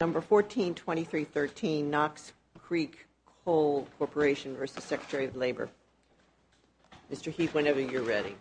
No. 142313 Knox Creek Coal Corporation v. Secretary of Labor Mr. Heath, whenever you're ready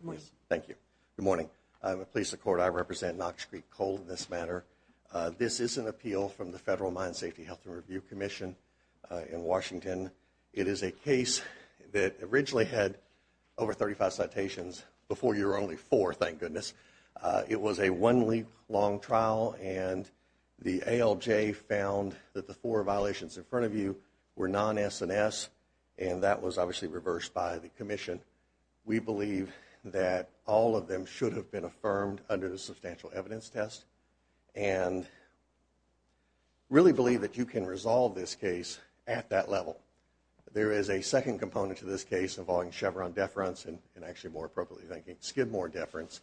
Good morning. Thank you. Good morning. I'm a police of court. I represent Knox Creek Coal in this matter. This is an appeal from the Federal Court of Appeals. This is a case that originally had over thirty-five citations before you're only four, thank goodness. Uh it was a one-week long trial and the ALJ found that the four violations in front of you were non-SNS and that was obviously reversed by the commission. We believe that all of them should have been affirmed under the substantial evidence test and really believe that you can resolve this case at that level. There is a second component to this case involving Chevron deference and actually more appropriately thanking Skidmore deference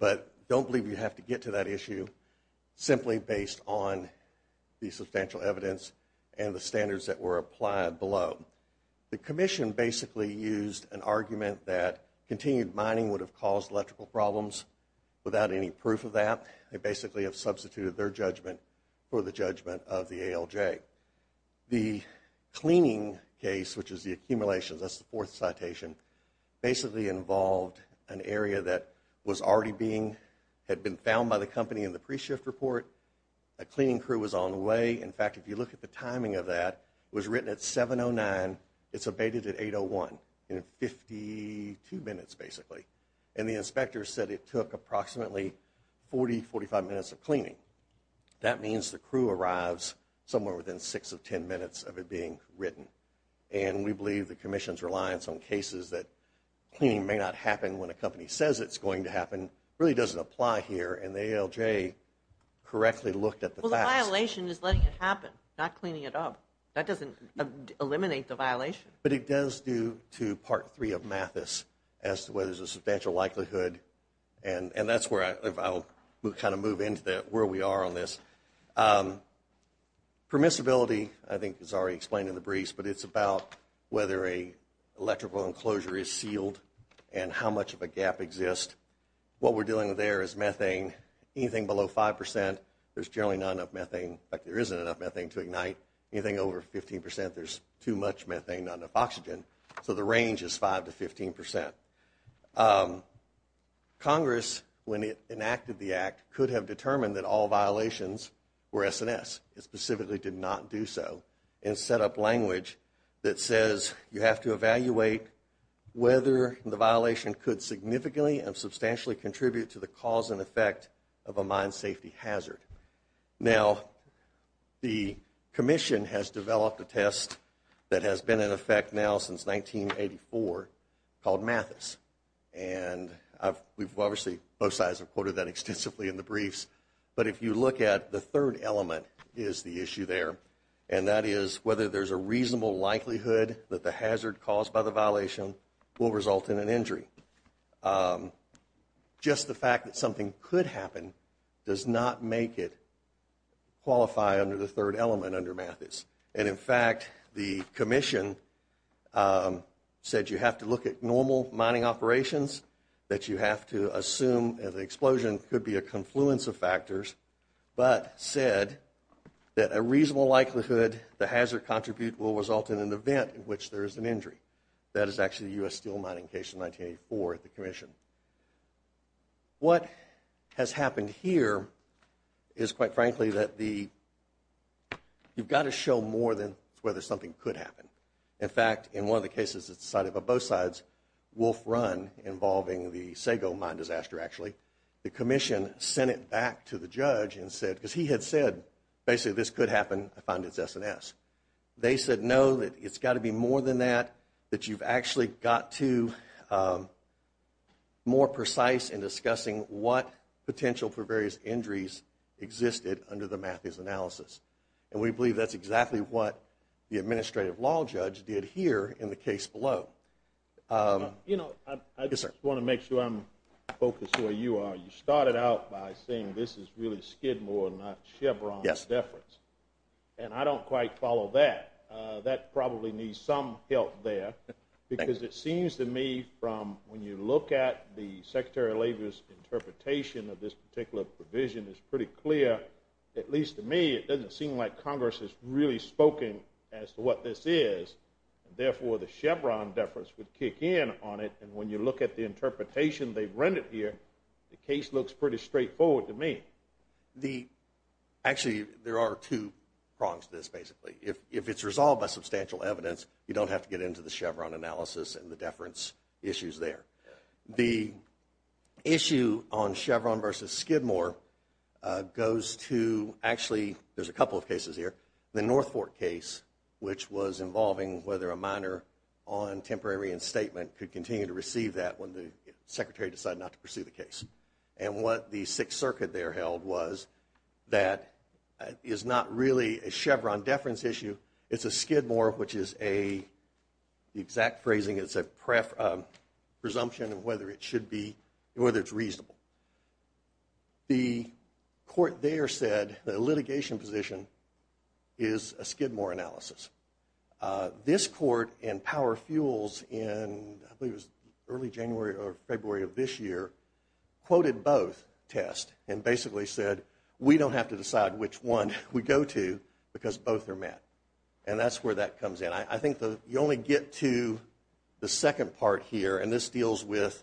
but don't believe you have to get to that issue simply based on the substantial evidence and the standards that were applied below. The commission basically used an argument that continued mining would have caused electrical problems without any proof of that. They basically have substituted their judgment for the judgment of the ALJ. The cleaning case, which is the accumulations, that's the fourth citation, basically involved an area that was already being had been found by the company in the pre-shift report. A cleaning crew was on the way. In fact, if you look at the timing of that, it was written at seven oh nine. It's abated at eight oh one in fifty-two minutes basically and the inspector said it took approximately forty, forty-five minutes of cleaning. That means the crew arrives somewhere within six of ten minutes of it being written and we believe the commission's reliance on cases that cleaning may not happen when a company says it's going to happen really doesn't apply here and the ALJ correctly looked at the facts. Well, the violation is letting it happen, not cleaning it up. That doesn't eliminate the violation. But it does due to part three of Mathis as to whether there's a substantial likelihood and that's where I'll kind of move into where we are on this. Permissibility, I think is already explained in the briefs, but it's about whether an electrical enclosure is sealed and how much of a gap exists. What we're dealing with there is methane. Anything below five percent, there's generally not enough methane. In fact, there isn't enough methane to ignite. Anything over fifteen percent, there's too much methane, not enough oxygen. So the range is five to fifteen percent. Congress, when it enacted the act, could have determined that all violations were SNS. It specifically did not do so and set up language that says you have to evaluate whether the violation could significantly and substantially contribute to the cause and effect of a mine safety hazard. Now, the commission has developed a test that has been in effect now since 1984 called Mathis. And we've obviously, both sides have quoted that extensively in the briefs. But if you look at the third element is the issue there, and that is whether there's a reasonable likelihood that the hazard caused by the violation will result in an injury. Just the fact that something could happen does not make it qualify under the third element under Mathis. And in fact, the commission said you have to look at normal mining operations, that you have to assume that the explosion could be a confluence of factors, but said that a reasonable likelihood the hazard contribute will result in an event in which there is an injury. That is actually the U.S. steel mining case in 1984 at the commission. What has happened here is, quite frankly, that the, you've got to show more than whether something could happen. In fact, in one of the cases that's decided by both sides, Wolf Run involving the Sago mine disaster actually, the commission sent it back to the judge and said, because he had said basically this could happen, I find it's SNS. They said no, it's got to be more than that, that you've actually got to be more precise in discussing what potential for various injuries existed under the Mathis analysis. And we believe that's exactly what the administrative law judge did here in the case below. You know, I just want to make sure I'm focused where you are. You started out by saying this is really Skidmore, not Chevron deference. And I don't quite follow that. That probably needs some help there. Because it seems to me from when you look at the Secretary of Labor's interpretation of this particular provision, it's pretty clear, at least to me, it doesn't seem like Congress has really spoken as to what this is. Therefore, the Chevron deference would kick in on it. And when you look at the interpretation they've rendered here, the case looks pretty straightforward to me. Actually, there are two prongs to this, basically. If it's resolved by substantial evidence, you don't have to get into the Chevron analysis and the deference issues there. The issue on Chevron versus Skidmore goes to, actually, there's a couple of cases here. The North Fork case, which was involving whether a minor on temporary reinstatement could continue to receive that when the Secretary decided not to pursue the case. And what the Sixth Circuit there held was that it's not really a Chevron deference issue. It's a Skidmore, which is a, the exact phrasing is a presumption of whether it should be, whether it's reasonable. The court there said the litigation position is a Skidmore analysis. This court in Power basically said, we don't have to decide which one we go to because both are met. And that's where that comes in. I think you only get to the second part here, and this deals with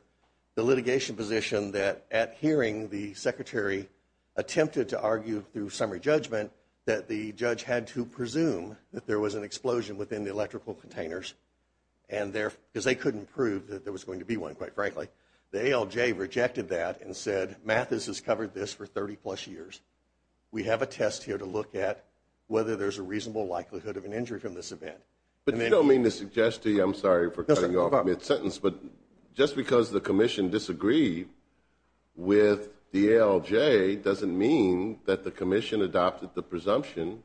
the litigation position that at hearing the Secretary attempted to argue through summary judgment that the judge had to presume that there was an explosion within the electrical containers. And there, because they couldn't prove that there was going to be one, quite frankly, the ALJ rejected that and said, Mathis has covered this for 30 plus years. We have a test here to look at whether there's a reasonable likelihood of an injury from this event. But you don't mean to suggest to you, I'm sorry for cutting you off mid-sentence, but just because the Commission disagreed with the ALJ doesn't mean that the Commission adopted the presumption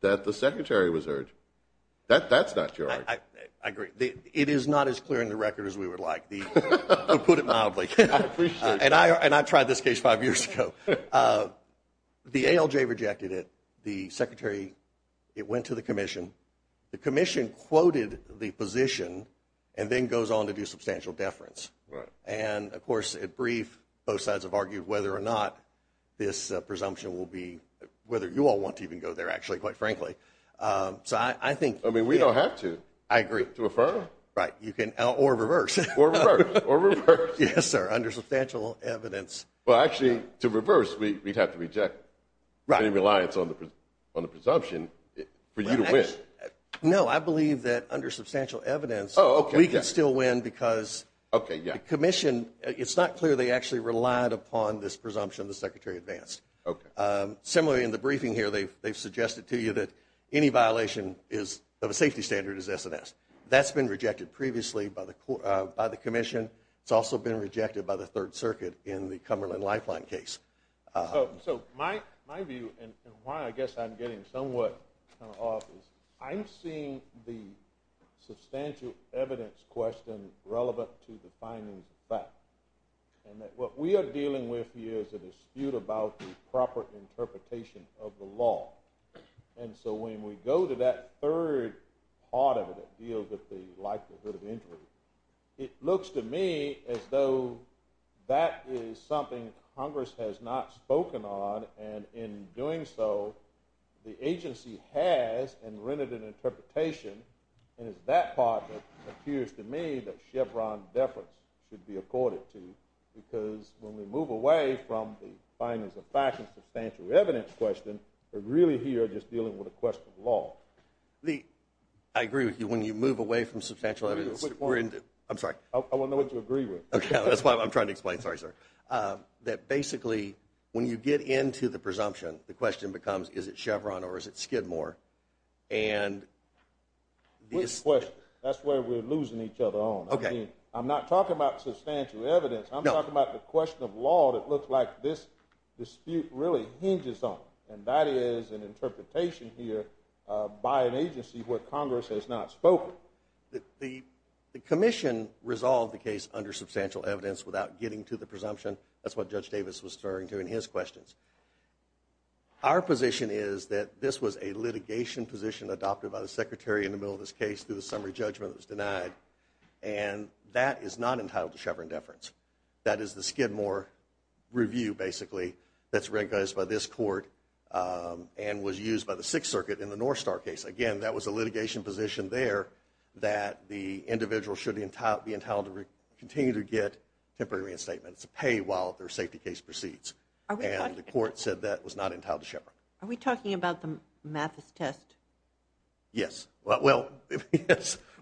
that the Secretary was hurt. That's not your argument. I agree. It is not as clear in the record as we would like. We'll put it mildly. And I tried this case five years ago. The ALJ rejected it. The Secretary, it went to the Commission. The Commission quoted the position, and then goes on to do substantial deference. And of course, at brief, both sides have argued whether or not this presumption will be, whether you all want to even go there, actually, quite frankly. So I think- Right. You can, or reverse. Or reverse. Or reverse. Yes, sir. Under substantial evidence. Well, actually, to reverse, we'd have to reject any reliance on the presumption for you to win. No, I believe that under substantial evidence- Oh, okay. We can still win because- Okay, yeah. The Commission, it's not clear they actually relied upon this presumption the Secretary advanced. Similarly, in the briefing here, they've suggested to you that any violation of a safety standard is S&S. That's been rejected previously by the Commission. It's also been rejected by the Third Circuit in the Cumberland Lifeline case. So my view, and why I guess I'm getting somewhat off, is I'm seeing the substantial evidence question relevant to the findings of fact. And that what we are dealing with here is a dispute about the proper interpretation of the law. And so when we go to that third part of it that deals with the likelihood of injury, it looks to me as though that is something Congress has not spoken on. And in doing so, the agency has and rendered an interpretation. And it's that part that appears to me that Chevron deference should be accorded to because when we move away from the findings of fact and substantial evidence question, we're really here just dealing with a question of law. Lee, I agree with you. When you move away from substantial evidence, we're in- Which one? I'm sorry. I want to know what you agree with. Okay, that's why I'm trying to explain. Sorry, sir. That basically, when you get into the presumption, the question becomes, is it Chevron or is it Skidmore? And- Good question. That's where we're losing each other on. Okay. I'm not talking about substantial evidence. No. I'm talking about the question of law that looks like this dispute really hinges on. And that is an interpretation here by an agency where Congress has not spoken. The commission resolved the case under substantial evidence without getting to the presumption. That's what Judge Davis was referring to in his questions. Our position is that this was a litigation position adopted by the Secretary in the middle of this case through the summary judgment that was denied. And that is not entitled to Chevron deference. That is the Skidmore review, basically, that's recognized by this court and was used by the Sixth Circuit in the Northstar case. Again, that was a litigation position there that the individual should be entitled to continue to get temporary reinstatement. It's a pay while their safety case proceeds. And the court said that was not entitled to Chevron. Are we talking about the Mathis test? Yes. Well,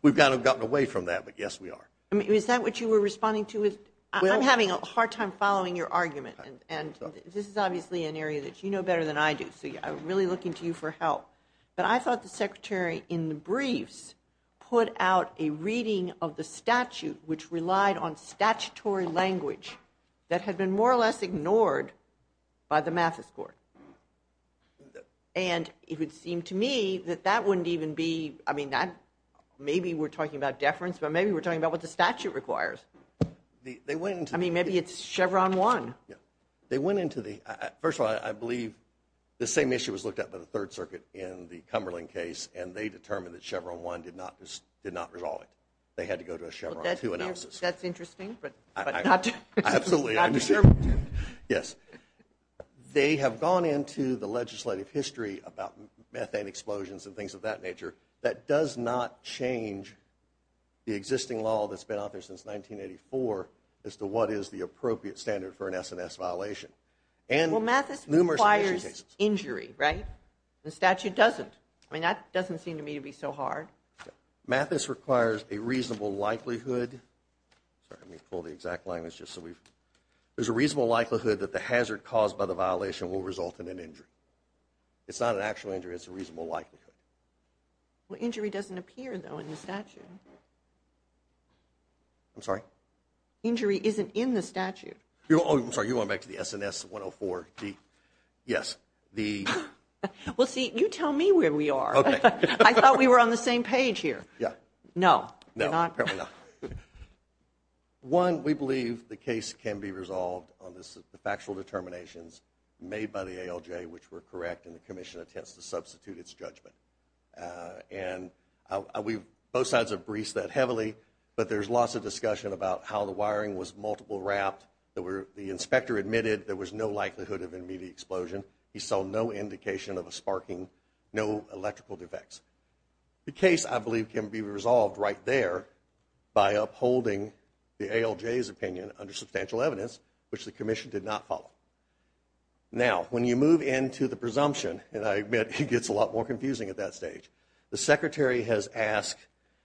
we've gotten away from that, but yes, we are. Is that what you were responding to? I'm having a hard time following your argument. And this is obviously an area that you know better than I do. So I'm really looking to you for help. But I thought the Secretary in the briefs put out a reading of the statute which relied on statutory language that had been more or less ignored by the Mathis court. And it would seem to me that that wouldn't even be, I mean, maybe we're talking about deference, but maybe we're talking about what the statute requires. I mean, maybe it's Chevron 1. They went into the, first of all, I believe the same issue was looked at by the Third Circuit in the Cumberland case, and they determined that Chevron 1 did not resolve it. They had to go to a Chevron 2 analysis. That's interesting, but not to serve intent. Yes. They have gone into the legislative history about methane explosions and things of that nature that does not change the existing law that's been out there since 1984 as to what is the appropriate standard for an S&S violation. Well, Mathis requires injury, right? The statute doesn't. I mean, that doesn't seem to me to be so hard. Mathis requires a reasonable likelihood. Sorry, let me pull the exact line. There's a reasonable likelihood that the hazard caused by the violation will result in an injury. It's not an actual injury. It's a reasonable likelihood. Well, injury doesn't appear, though, in the statute. I'm sorry? Injury isn't in the statute. Oh, I'm sorry. You want to go back to the S&S 104? Yes. Well, see, you tell me where we are. I thought we were on the same page here. No, we're not. One, we believe the case can be resolved on the factual determinations made by the ALJ which were correct in the commission attempts to substitute its judgment. And both sides have briefed that heavily, but there's lots of discussion about how the wiring was multiple wrapped. The inspector admitted there was no likelihood of an immediate explosion. He saw no indication of a sparking, no electrical defects. The case, I believe, can be resolved right there by upholding the ALJ's opinion under substantial evidence which the commission did not follow. Now, when you move into the presumption, and I admit it gets a lot more confusing at that stage, the secretary has asked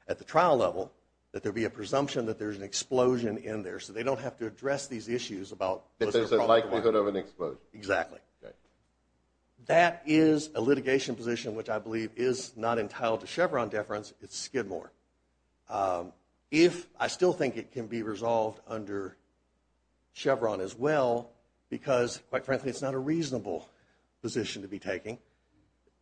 at the trial level that there be a presumption that there's an explosion in there so they don't have to address these issues about what's the probability. That there's a likelihood of an explosion. Exactly. That is a litigation position which I believe is not entitled to Chevron deference. It's Skidmore. If I still think it can be resolved under Chevron as well, because, quite frankly, it's not a reasonable position to be taking.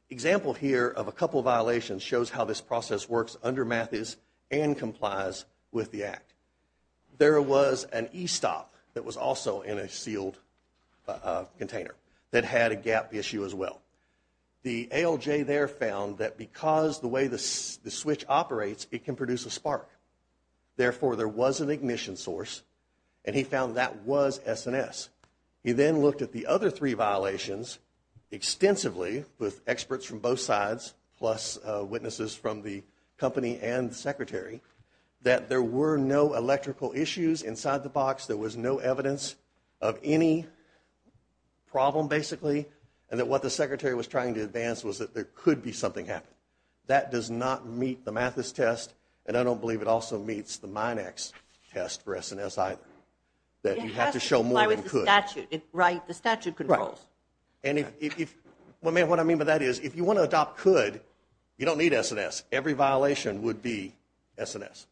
Example here of a couple violations shows how this process works under Mathis and complies with the Act. There was an e-stop that was also in a sealed container that had a gap issue as well. The ALJ there found that because the way the switch operates, it can produce a spark. Therefore, there was an ignition source and he found that was S&S. He then looked at the other three violations extensively with experts from both sides plus witnesses from the company and the secretary, that there were no electrical issues inside the box, there was no evidence of any problem basically, and that what the secretary was trying to advance was that there could be something happening. That does not meet the Mathis test and I don't believe it also meets the Minax test for S&S either. That you have to show more than could. It has to comply with the statute. The statute controls. What I mean by that is if you want to adopt could, you don't need S&S. Every violation would be S&S.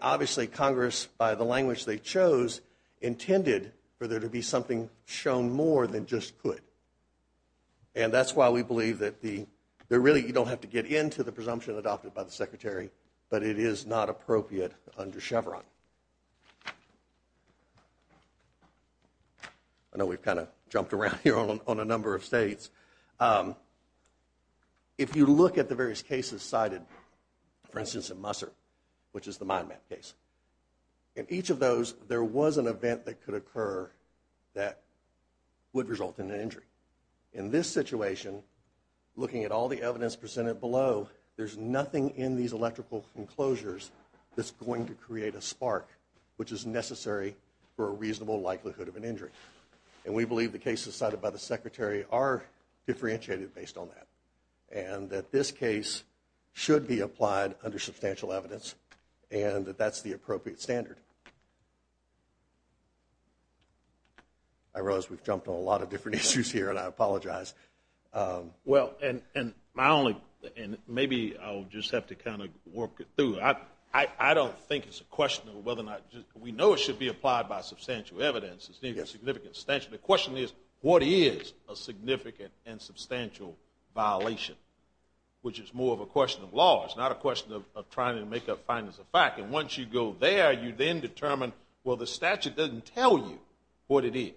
Obviously, Congress, by the language they chose, intended for there to be something shown more than just could. That's why we believe that you don't have to get into the presumption adopted by the secretary, but it is not appropriate under Chevron. I know we've kind of jumped around here on a number of states. If you look at the various cases cited, for instance, in Musser, which is the Mind Map case. In each of those, there was an event that could occur that would result in an injury. In this situation, looking at all the evidence presented below, there's nothing in these electrical enclosures that's going to create a spark. Which is necessary for a reasonable likelihood of an injury. And we believe the cases cited by the secretary are differentiated based on that. And that this case should be applied under substantial evidence. And that that's the appropriate standard. I realize we've jumped on a lot of different issues here, and I apologize. Well, and my only, and maybe I'll just have to kind of work it through. I don't think it's a question of whether or not, we know it should be applied by substantial evidence. The question is, what is a significant and substantial violation? Which is more of a question of law. It's not a question of trying to make a fine as a fact. And once you go there, you then determine, well, the statute doesn't tell you what it is.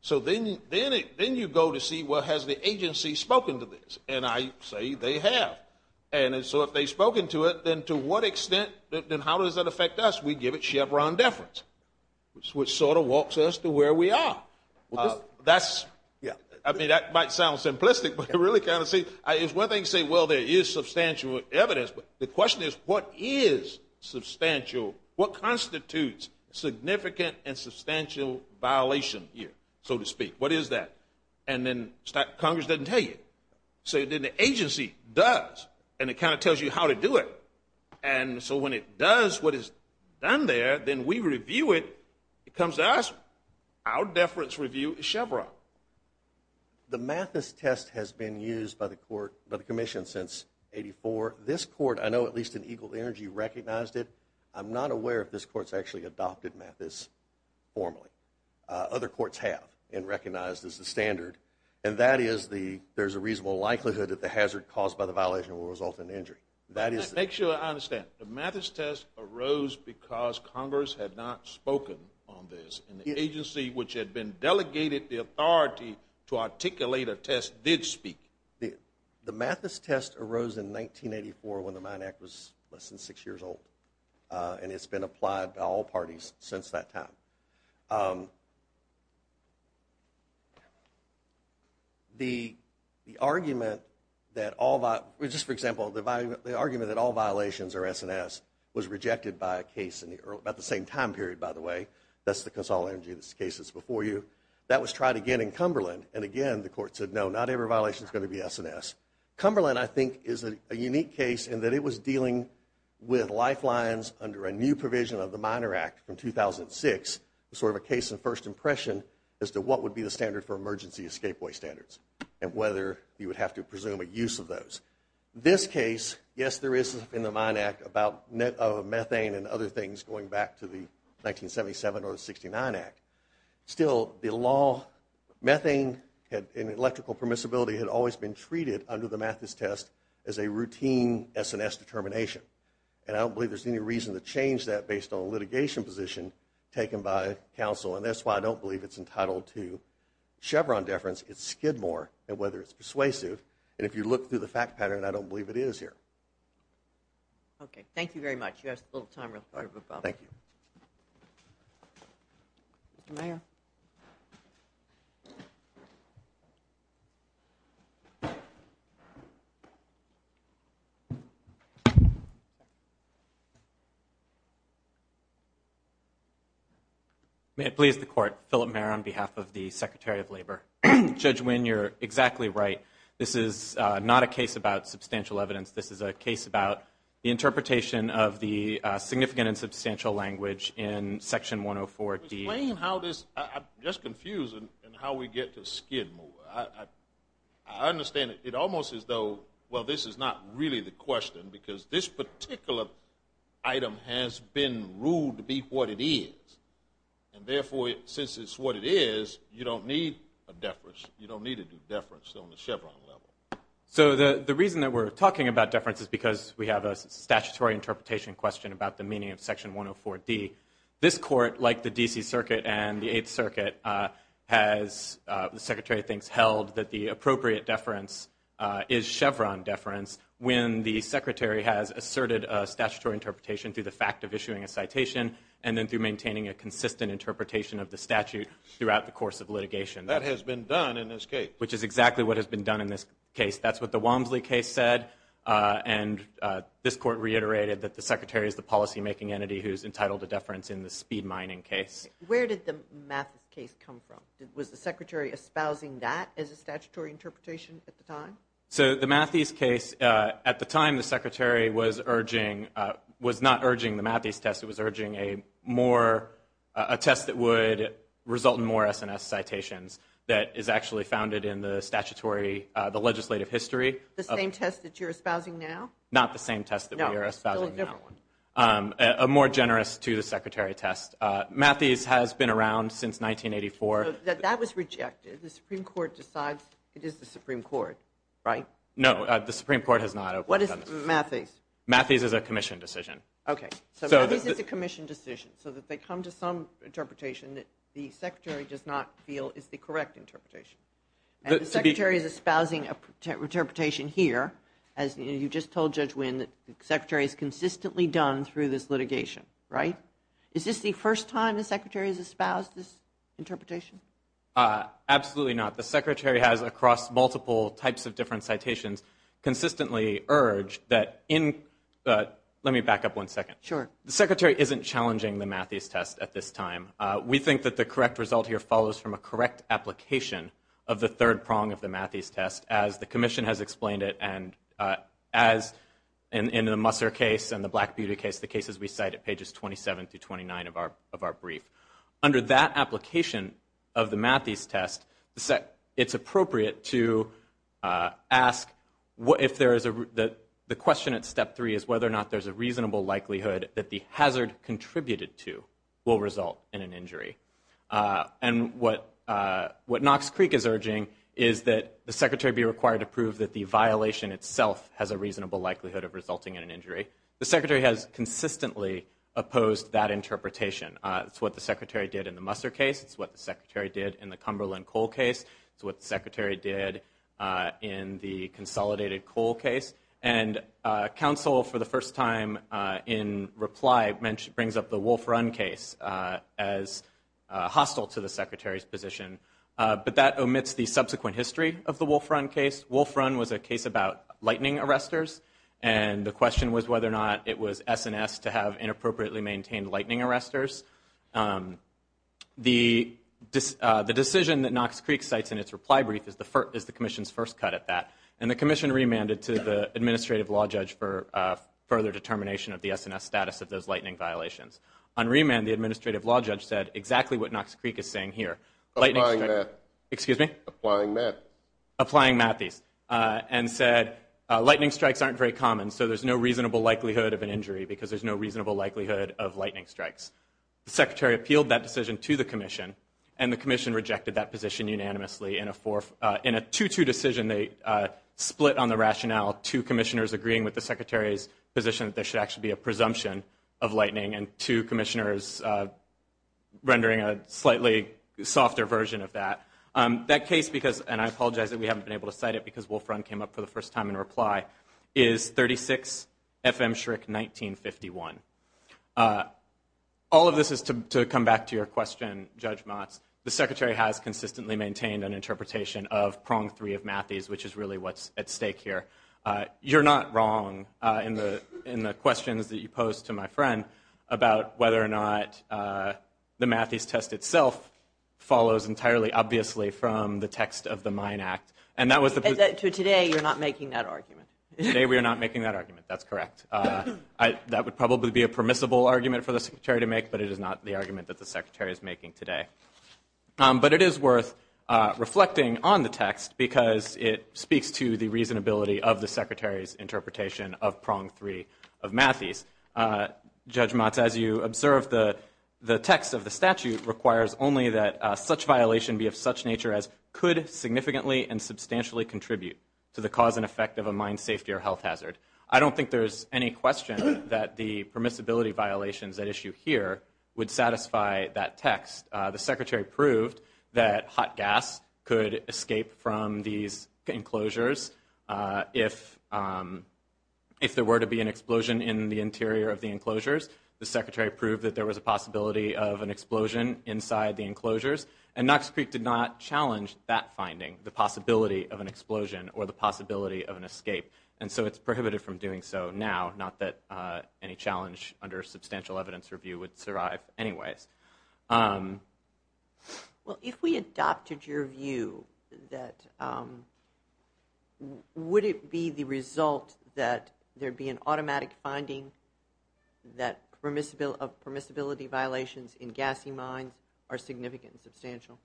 So then you go to see, well, has the agency spoken to this? And I say they have. And so if they've spoken to it, then to what extent, then how does that affect us? We give it Chevron deference. Which sort of walks us to where we are. That's, I mean, that might sound simplistic, but I really kind of see, it's one thing to say, well, there is substantial evidence. But the question is, what is substantial? What constitutes significant and substantial violation here, so to speak? What is that? And then Congress doesn't tell you. So then the agency does. And it kind of tells you how to do it. And so when it does what is done there, then we review it. It comes to us. Our deference review is Chevron. The Mathis test has been used by the court, by the commission, since 84. This court, I know at least in Eagle Energy, recognized it. I'm not aware if this court's actually adopted Mathis formally. Other courts have and recognized as the standard. And that is the, there's a reasonable likelihood that the hazard caused by the violation will result in injury. Make sure I understand. The Mathis test arose because Congress had not spoken on this. And the agency which had been delegated the authority to articulate a test did speak. The Mathis test arose in 1984 when the Mine Act was less than 6 years old. And it's been applied by all parties since that time. The argument that all, just for example, the argument that all violations are S&S was rejected by a case in the same time period, by the way. That's the Consol Energy case that's before you. That was tried again in Cumberland. And again, the court said, no, not every violation is going to be S&S. Cumberland, I think, is a unique case in that it was dealing with lifelines under a new provision of the Miner Act from 2006, sort of a case in first impression as to what would be the standard for emergency escapeway standards and whether you would have to presume a use of those. This case, yes, there is in the Mine Act about methane and other things going back to the 1977 or the 69 Act. Still, the law, methane and electrical permissibility had always been treated under the Mathis test as a routine S&S determination. And I don't believe there's any reason to change that based on a litigation position taken by counsel. And that's why I don't believe it's entitled to Chevron deference. It's Skidmore. And whether it's persuasive. And if you look through the fact pattern, I don't believe it is here. Okay. Thank you very much. Thank you. Mr. Mayor. Thank you. May it please the court. Philip Mayor on behalf of the Secretary of Labor. Judge Wynn, you're exactly right. This is not a case about substantial evidence. This is a case about the interpretation of the significant and substantial language in Section 104D. Explain how this, I'm just confused in how we get to Skidmore. I understand it almost as though, well, this is not really the question because this particular item has been ruled to be what it is. And therefore, since it's what it is, you don't need a deference. You don't need to do deference on the Chevron level. So the reason that we're talking about deference is because we have a statutory interpretation question about the meaning of Section 104D. This court, like the D.C. Circuit and the Eighth Circuit, has, the Secretary thinks, held that the appropriate deference is Chevron deference when the Secretary has asserted a statutory interpretation through the fact of issuing a citation and then through maintaining a consistent interpretation of the statute throughout the course of litigation. That has been done in this case. Which is exactly what has been done in this case. That's what the Walmsley case said. And this court reiterated that the Secretary is the policymaking entity who's entitled to deference in the speed mining case. Where did the Mattheis case come from? Was the Secretary espousing that as a statutory interpretation at the time? So the Mattheis case, at the time the Secretary was urging, was not urging the Mattheis test. It was urging a more, a test that would result in more S&S citations that is actually founded in the statutory, the legislative history. The same test that you're espousing now? Not the same test that we are espousing now. A more generous to the Secretary test. Mattheis has been around since 1984. That was rejected. The Supreme Court decides it is the Supreme Court, right? No, the Supreme Court has not. What is Mattheis? Mattheis is a commission decision. Okay, so Mattheis is a commission decision. So that they come to some interpretation that the Secretary does not feel is the correct interpretation. And the Secretary is espousing a interpretation here, as you just told Judge Wynn, that the Secretary has consistently done through this litigation, right? Is this the first time the Secretary has espoused this interpretation? Absolutely not. The Secretary has, across multiple types of different citations, consistently urged that in, let me back up one second. Sure. The Secretary isn't challenging the Mattheis test at this time. We think that the correct result here follows from a correct application of the third prong of the Mattheis test, as the commission has explained it, and as in the Musser case and the Black Beauty case, the cases we cite at pages 27 through 29 of our brief. Under that application of the Mattheis test, it's appropriate to ask if there is a, the question at step three is whether or not there's a reasonable likelihood that the hazard contributed to will result in an injury. And what Knox Creek is urging is that the Secretary be required to prove that the violation itself has a reasonable likelihood of resulting in an injury. The Secretary has consistently opposed that interpretation. It's what the Secretary did in the Musser case. It's what the Secretary did in the Cumberland Cole case. It's what the Secretary did in the Consolidated Cole case. And counsel, for the first time in reply, brings up the Wolf Run case as hostile to the Secretary's position. But that omits the subsequent history of the Wolf Run case. Wolf Run was a case about lightning arresters, and the question was whether or not it was S&S to have inappropriately maintained lightning arresters. The decision that Knox Creek cites in its reply brief is the commission's first cut at that. And the commission remanded to the administrative law judge for further determination of the S&S status of those lightning violations. On remand, the administrative law judge said exactly what Knox Creek is saying here. Applying math. Excuse me? Applying math. Applying mathies. And said, lightning strikes aren't very common, so there's no reasonable likelihood of an injury because there's no reasonable likelihood of lightning strikes. The Secretary appealed that decision to the commission, and the commission rejected that position unanimously. In a 2-2 decision, they split on the rationale, two commissioners agreeing with the Secretary's position that there should actually be a presumption of lightning, and two commissioners rendering a slightly softer version of that. That case, and I apologize that we haven't been able to cite it because Wolf Run came up for the first time in reply, is 36 FM Schrick 1951. All of this is to come back to your question, Judge Motz. The Secretary has consistently maintained an interpretation of Prong 3 of mathies, which is really what's at stake here. You're not wrong in the questions that you posed to my friend about whether or not the mathies test itself follows entirely obviously from the text of the Mine Act. So today, you're not making that argument? Today, we are not making that argument. That's correct. That would probably be a permissible argument for the Secretary to make, but it is not the argument that the Secretary is making today. But it is worth reflecting on the text because it speaks to the reasonability of the Secretary's interpretation of Prong 3 of mathies. Judge Motz, as you observed, the text of the statute requires only that such violation be of such nature as could significantly and substantially contribute to the cause and effect of a mine safety or health hazard. I don't think there's any question that the permissibility violations at issue here would satisfy that text. The Secretary proved that hot gas could escape from these enclosures if there were to be an explosion in the interior of the enclosures. The Secretary proved that there was a possibility of an explosion inside the enclosures. And Knox Creek did not challenge that finding, the possibility of an explosion or the possibility of an escape. And so it's prohibited from doing so now, not that any challenge under substantial evidence review would survive anyways. Well, if we adopted your view, would it be the result that there'd be an automatic finding that permissibility violations in gassy mines are significant and substantial?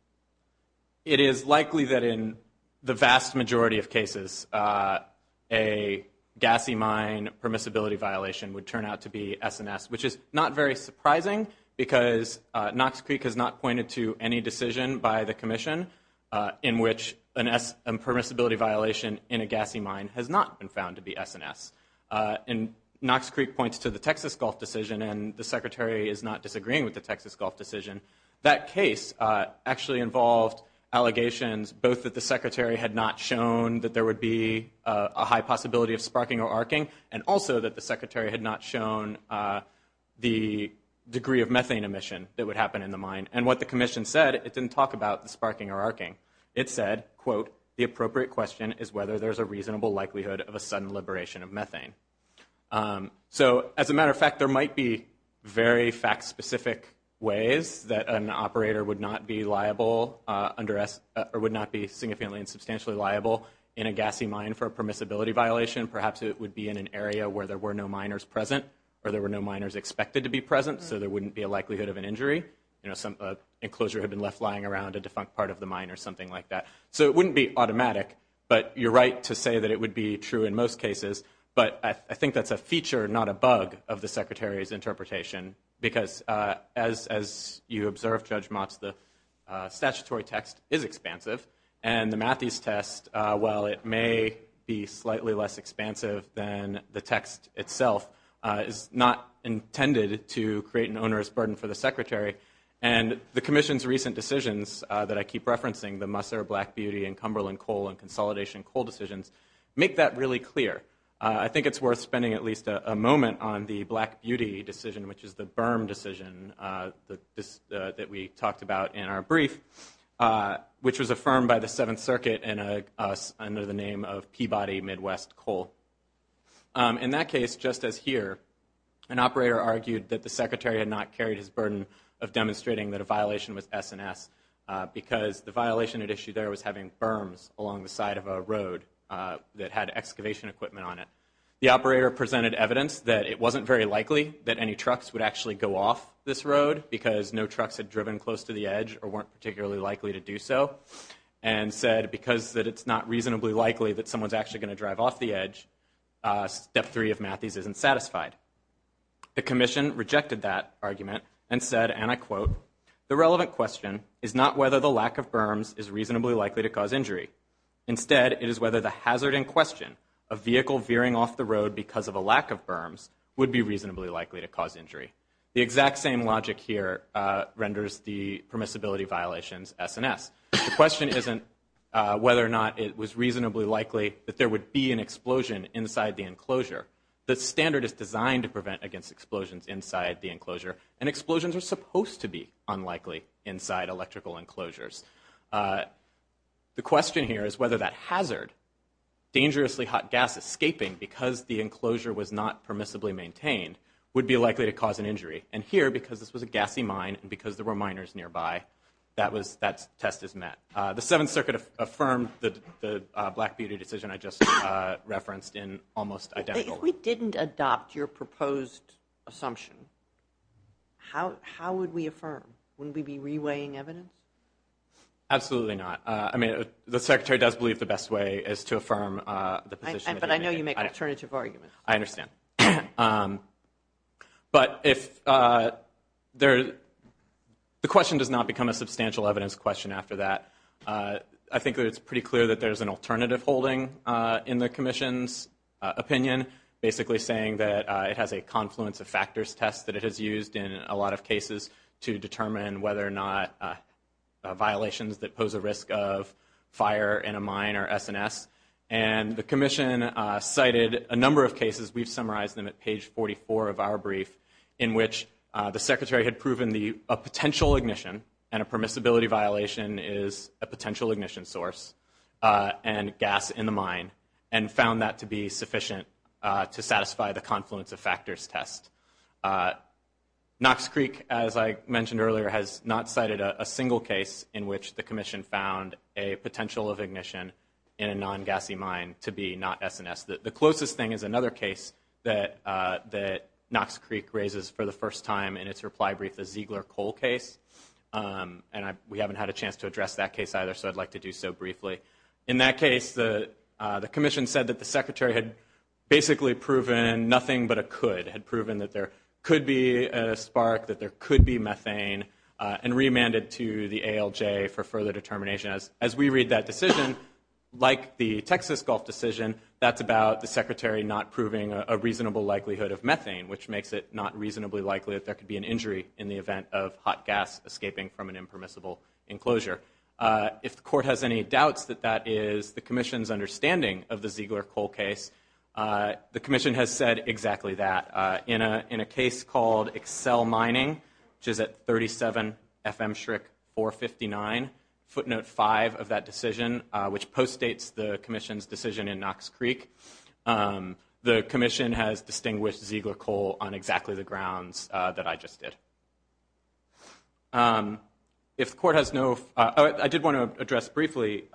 It is likely that in the vast majority of cases a gassy mine permissibility violation would turn out to be S&S, which is not very surprising because Knox Creek has not pointed to any decision by the Commission in which a permissibility violation in a gassy mine has not been found to be S&S. And Knox Creek points to the Texas Gulf decision and the Secretary is not disagreeing with the Texas Gulf decision. That case actually involved allegations both that the Secretary had not shown that there would be a high possibility of sparking or arcing and also that the Secretary had not shown the degree of methane emission that would happen in the mine. And what the Commission said, it didn't talk about the sparking or arcing. It said, quote, the appropriate question is whether there's a reasonable likelihood of a sudden liberation of methane. So, as a matter of fact, there might be very fact-specific ways that an operator would not be liable, or would not be significantly and substantially liable in a gassy mine for a permissibility violation. Perhaps it would be in an area where there were no miners present, or there were no miners expected to be present, so there wouldn't be a likelihood of an injury. You know, some enclosure had been left lying around a defunct part of the mine or something like that. So it wouldn't be automatic, but you're right to say that it would be true in most cases. But I think that's a feature, not a bug, of the Secretary's interpretation. Because as you observed, Judge Motz, the statutory text is expansive. And the Matthews test, while it may be slightly less expansive than the text itself, is not intended to create an onerous burden for the Secretary. And the Commission's recent decisions, that I keep referencing, the Musser, Black Beauty, and Cumberland Coal and Consolidation Coal decisions, make that really clear. I think it's worth spending at least a moment on the Black Beauty decision, which is the Berm decision that we talked about in our brief, which was affirmed by the Seventh Circuit under the name of Peabody Midwest Coal. In that case, just as here, an operator argued that the Secretary had not carried his burden of demonstrating that a violation was S&S, because the violation at issue there was having berms along the side of a road that had excavation equipment on it. The operator presented evidence that it wasn't very likely that any trucks would actually go off this road, because no trucks had driven close to the edge or weren't particularly likely to do so, and said, because it's not reasonably likely that someone's actually going to drive off the edge, step three of Matthees isn't satisfied. The Commission rejected that argument and said, and I quote, the relevant question is not whether the lack of berms is reasonably likely to cause injury. Instead, it is whether the hazard in question, a vehicle veering off the road because of a lack of berms, would be reasonably likely to cause injury. The exact same logic here renders the permissibility violations S&S. The question isn't whether or not it was reasonably likely that there would be an explosion inside the enclosure. The standard is designed to prevent against explosions inside the enclosure, and explosions are supposed to be unlikely inside electrical enclosures. The question here is whether that hazard, dangerously hot gas escaping because the enclosure was not permissibly maintained, would be likely to cause an injury. And here, because this was a gassy mine, and because there were miners nearby, that test is met. The Seventh Circuit affirmed the Black Beauty decision I just referenced in almost identical. If we didn't adopt your proposed assumption, how would we affirm? Wouldn't we be reweighing evidence? Absolutely not. I mean, the Secretary does believe the best way is to affirm the position. But I know you make alternative arguments. I understand. But the question does not become a substantial evidence question after that. I think that it's pretty clear that there's an alternative holding in the Commission's opinion, basically saying that it has a confluence of factors test that it has used in a lot of cases to determine whether or not violations that pose a risk of fire in a mine are S&S. And the Commission cited a number of cases. We've summarized them at page 44 of our brief, in which the Secretary had proven a potential ignition and a permissibility violation is a potential ignition source and gas in the mine, and found that to be sufficient to satisfy the confluence of factors test. Knox Creek, as I mentioned earlier, has not cited a single case in which the Commission found a potential of ignition in a non-gassy mine to be not S&S. The closest thing is another case that Knox Creek raises for the first time in its reply brief, the Ziegler Coal case. And we haven't had a chance to address that case either, so I'd like to do so briefly. In that case, the Commission said that the Secretary had basically proven nothing but a could, had proven that there could be a spark, that there could be methane, and remanded to the ALJ for further determination. As we read that decision, like the Texas Gulf decision, that's about the Secretary not proving a reasonable likelihood of methane, which makes it not reasonably likely that there could be an injury in the event of hot gas escaping from an impermissible enclosure. If the Court has any doubts that that is the Commission's understanding of the Ziegler Coal case, the Commission has said exactly that. In a case called Excel Mining, which is at 37 FM-459, footnote 5 of that decision, which postdates the Commission's decision in Knox Creek, the Commission has distinguished Ziegler Coal on exactly the grounds that I just did. I did want to address briefly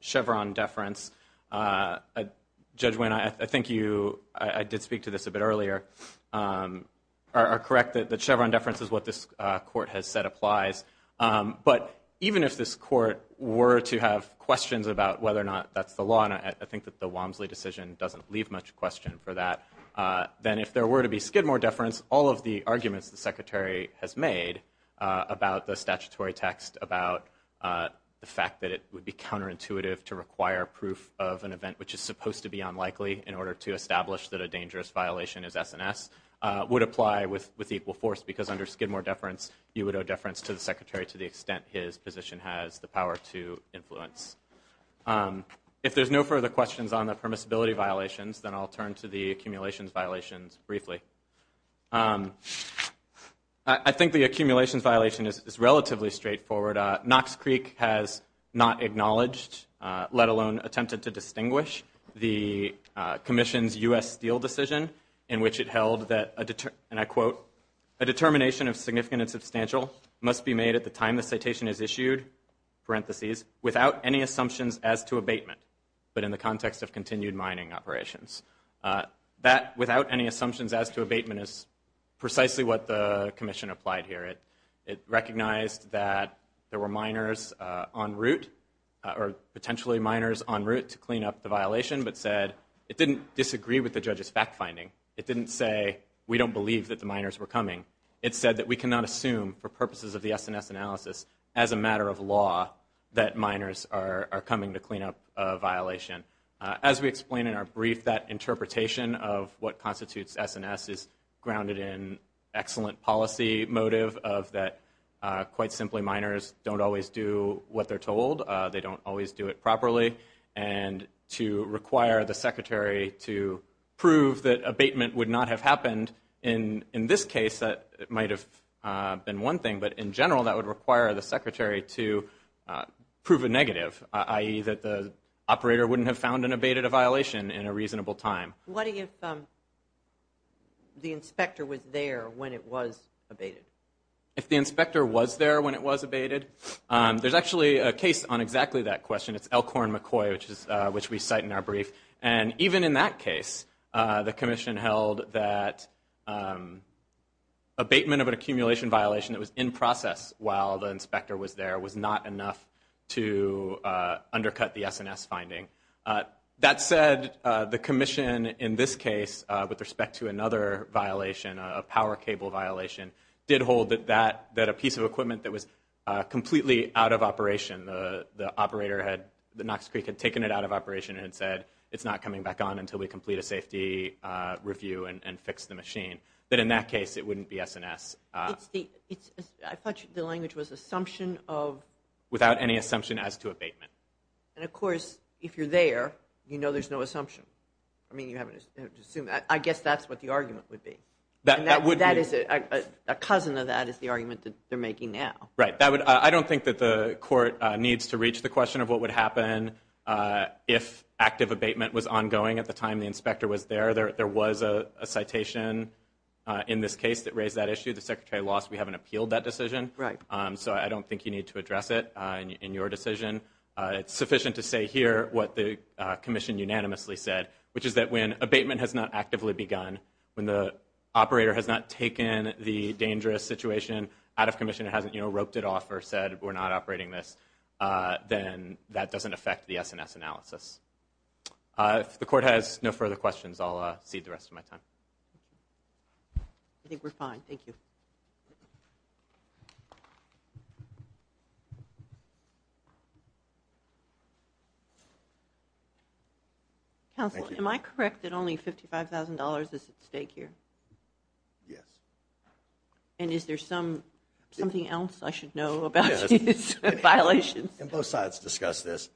Chevron deference. Judge Winn, I think you, I did speak to this a bit earlier, are correct that Chevron deference is what this Court has said applies. But even if this Court were to have questions about whether or not that's the law, and I think that the Walmsley decision doesn't leave much question for that, then if there were to be Skidmore deference, all of the arguments the Secretary has made about the statutory text, about the fact that it would be counterintuitive to require proof of an event which is supposed to be unlikely in order to establish that a dangerous violation is S&S, would apply with equal force, because under Skidmore deference, you would owe deference to the Secretary to the extent his position has the power to influence. If there's no further questions on the permissibility violations, then I'll turn to the accumulations violations briefly. I think the accumulations violation is relatively straightforward. Knox Creek has not acknowledged, let alone attempted to distinguish, the Commission's U.S. Steel decision, in which it held that, and I quote, a determination of significant and substantial must be made at the time the citation is issued, parentheses, without any assumptions as to abatement, but in the context of continued mining operations. That, without any assumptions as to abatement, is precisely what the Commission applied here. It recognized that there were miners en route, or potentially miners en route, to clean up the violation, but said, it didn't disagree with the judge's fact-finding. It didn't say, we don't believe that the miners were coming. It said that we cannot assume, for purposes of the S&S analysis, as a matter of law, that miners are coming to clean up a violation. As we explain in our brief, that interpretation of what constitutes S&S is grounded in excellent policy motive of that, quite simply, miners don't always do what they're told, they don't always do it properly, and to require the Secretary to prove that abatement would not have happened in this case, that might have been one thing, but in general, that would require the Secretary to prove a negative, i.e. that the operator wouldn't have found and abated a violation in a reasonable time. What if the inspector was there when it was abated? If the inspector was there when it was abated? There's actually a case on exactly that question, it's Elkhorn-McCoy, which we cite in our brief, and even in that case, the Commission held that abatement of an accumulation violation that was in process while the inspector was there was not enough to undercut the S&S finding. That said, the Commission, in this case, with respect to another violation, a power cable violation, did hold that a piece of equipment that was completely out of operation, the operator had, the Knox Creek had taken it out of operation and had said, it's not coming back on until we have a machine. But in that case, it wouldn't be S&S. I thought the language was assumption of? Without any assumption as to abatement. And of course, if you're there, you know there's no assumption. I mean, you have to assume. I guess that's what the argument would be. That would be. A cousin of that is the argument that they're making now. Right. I don't think that the court needs to reach the question of what would happen if active abatement was ongoing at the time the inspector was there. There was a citation in this case that raised that issue. The secretary lost. We haven't appealed that decision. Right. So I don't think you need to address it in your decision. It's sufficient to say here what the Commission unanimously said, which is that when abatement has not actively begun, when the operator has not taken the dangerous situation out of commission, hasn't roped it off or said we're not operating this, then that doesn't affect the S&S analysis. If the court has no further questions, I'll cede the rest of my time. I think we're fine. Thank you. Counsel, am I correct that only $55,000 is at stake here? Yes. And is there something else I should know about these violations? Both sides discussed this.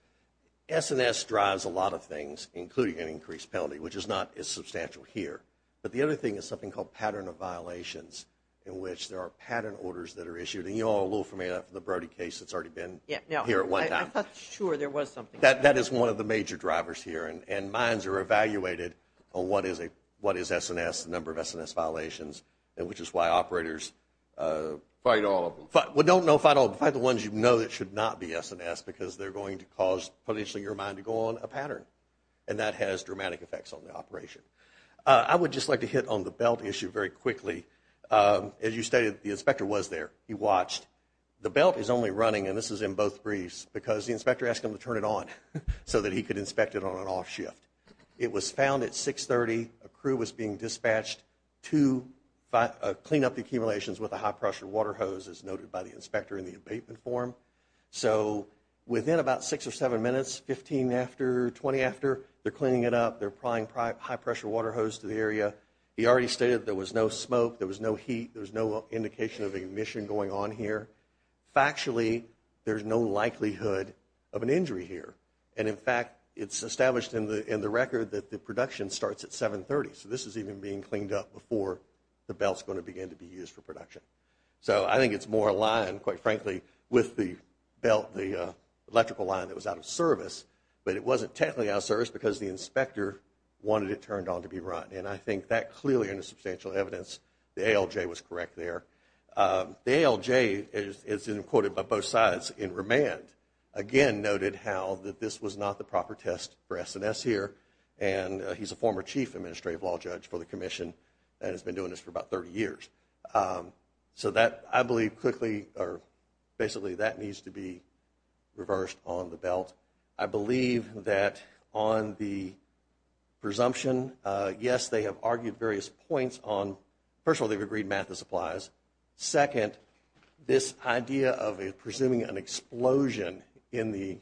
S&S drives a lot of things, including an increased penalty, which is not as substantial here. But the other thing is something called pattern of violations in which there are pattern orders that are issued. And you're all a little familiar with the Brody case that's already been here at one time. I'm not sure there was something. That is one of the major drivers here. And mines are evaluated on what is S&S, the number of S&S violations, which is why operators fight all of them. Well, don't fight all of them. Fight the ones you know that should not be S&S because they're going to cause potentially your mine to go on a pattern. And that has dramatic effects on the operation. I would just like to hit on the belt issue very quickly. As you stated, the inspector was there. He watched. The belt is only running, and this is in both briefs, because the inspector asked him to turn it on so that he could inspect it on an off shift. It was found at 6.30. A crew was being dispatched to clean up the accumulations with a high-pressure water hose, as noted by the inspector in the abatement form. So within about six or seven minutes, 15 after, 20 after, they're cleaning it up. They're prying high-pressure water hose to the area. He already stated there was no smoke. There was no heat. There was no indication of ignition going on here. Factually, there's no likelihood of an injury here. And in fact, it's established in the record that the production starts at 7.30. So this is even being cleaned up before the belt's going to begin to be used for production. So I think it's more aligned, quite frankly, with the belt, the electrical line that was out of service. But it wasn't technically out of service because the inspector wanted it turned on to be run. And I think that clearly, under substantial evidence, the ALJ was correct there. The ALJ, as quoted by both sides in remand, again noted how this was not the proper test for S&S here. And he's a former chief administrative law judge for the commission and has been doing this for about 30 years. So that, I believe, quickly, or basically, that needs to be reversed on the belt. I believe that on the presumption, yes, they have argued various points on, first of all, they've agreed math this applies. Second, this idea of presuming an explosion in the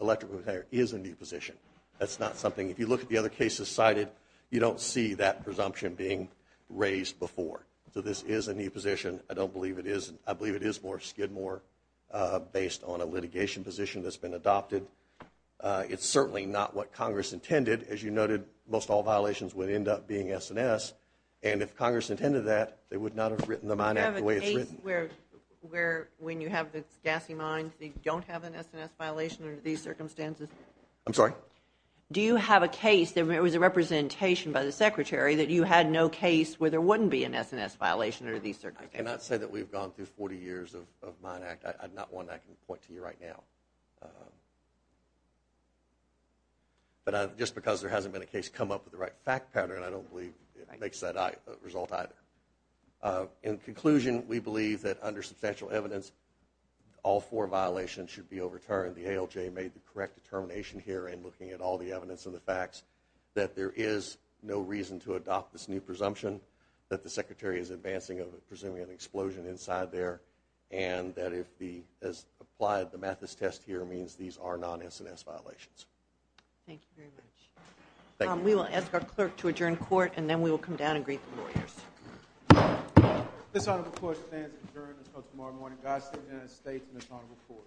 electrical container is a new position. That's not something, if you look at the other cases cited, you don't see that presumption being raised before. So this is a new position. I don't believe it is. I believe it is more skidmore based on a litigation position that's been adopted. It's certainly not what Congress intended. As you noted, most all violations would end up being S&S. And if Congress intended that, they would not have written the Mine Act the way it's written. You have a case where when you have this S&S violation under these circumstances? I'm sorry? Do you have a case, there was a representation by the Secretary that you had no case where there wouldn't be an S&S violation under these circumstances? I cannot say that we've gone through 40 years of Mine Act. Not one I can point to you right now. But I just because there hasn't been a case come up with the right fact pattern, I don't believe it makes that result either. In conclusion, we believe that under substantial evidence all four violations should be overturned. The ALJ made the correct determination here in looking at all the evidence and the facts that there is no reason to adopt this new presumption that the Secretary is advancing presumably an explosion inside there and that as applied, the Mathis test here means these are non-S&S violations. Thank you very much. We will ask our clerk to adjourn court and then we will come down and greet the lawyers. This honorable court stands adjourned until tomorrow morning. God save the United States and this honorable court.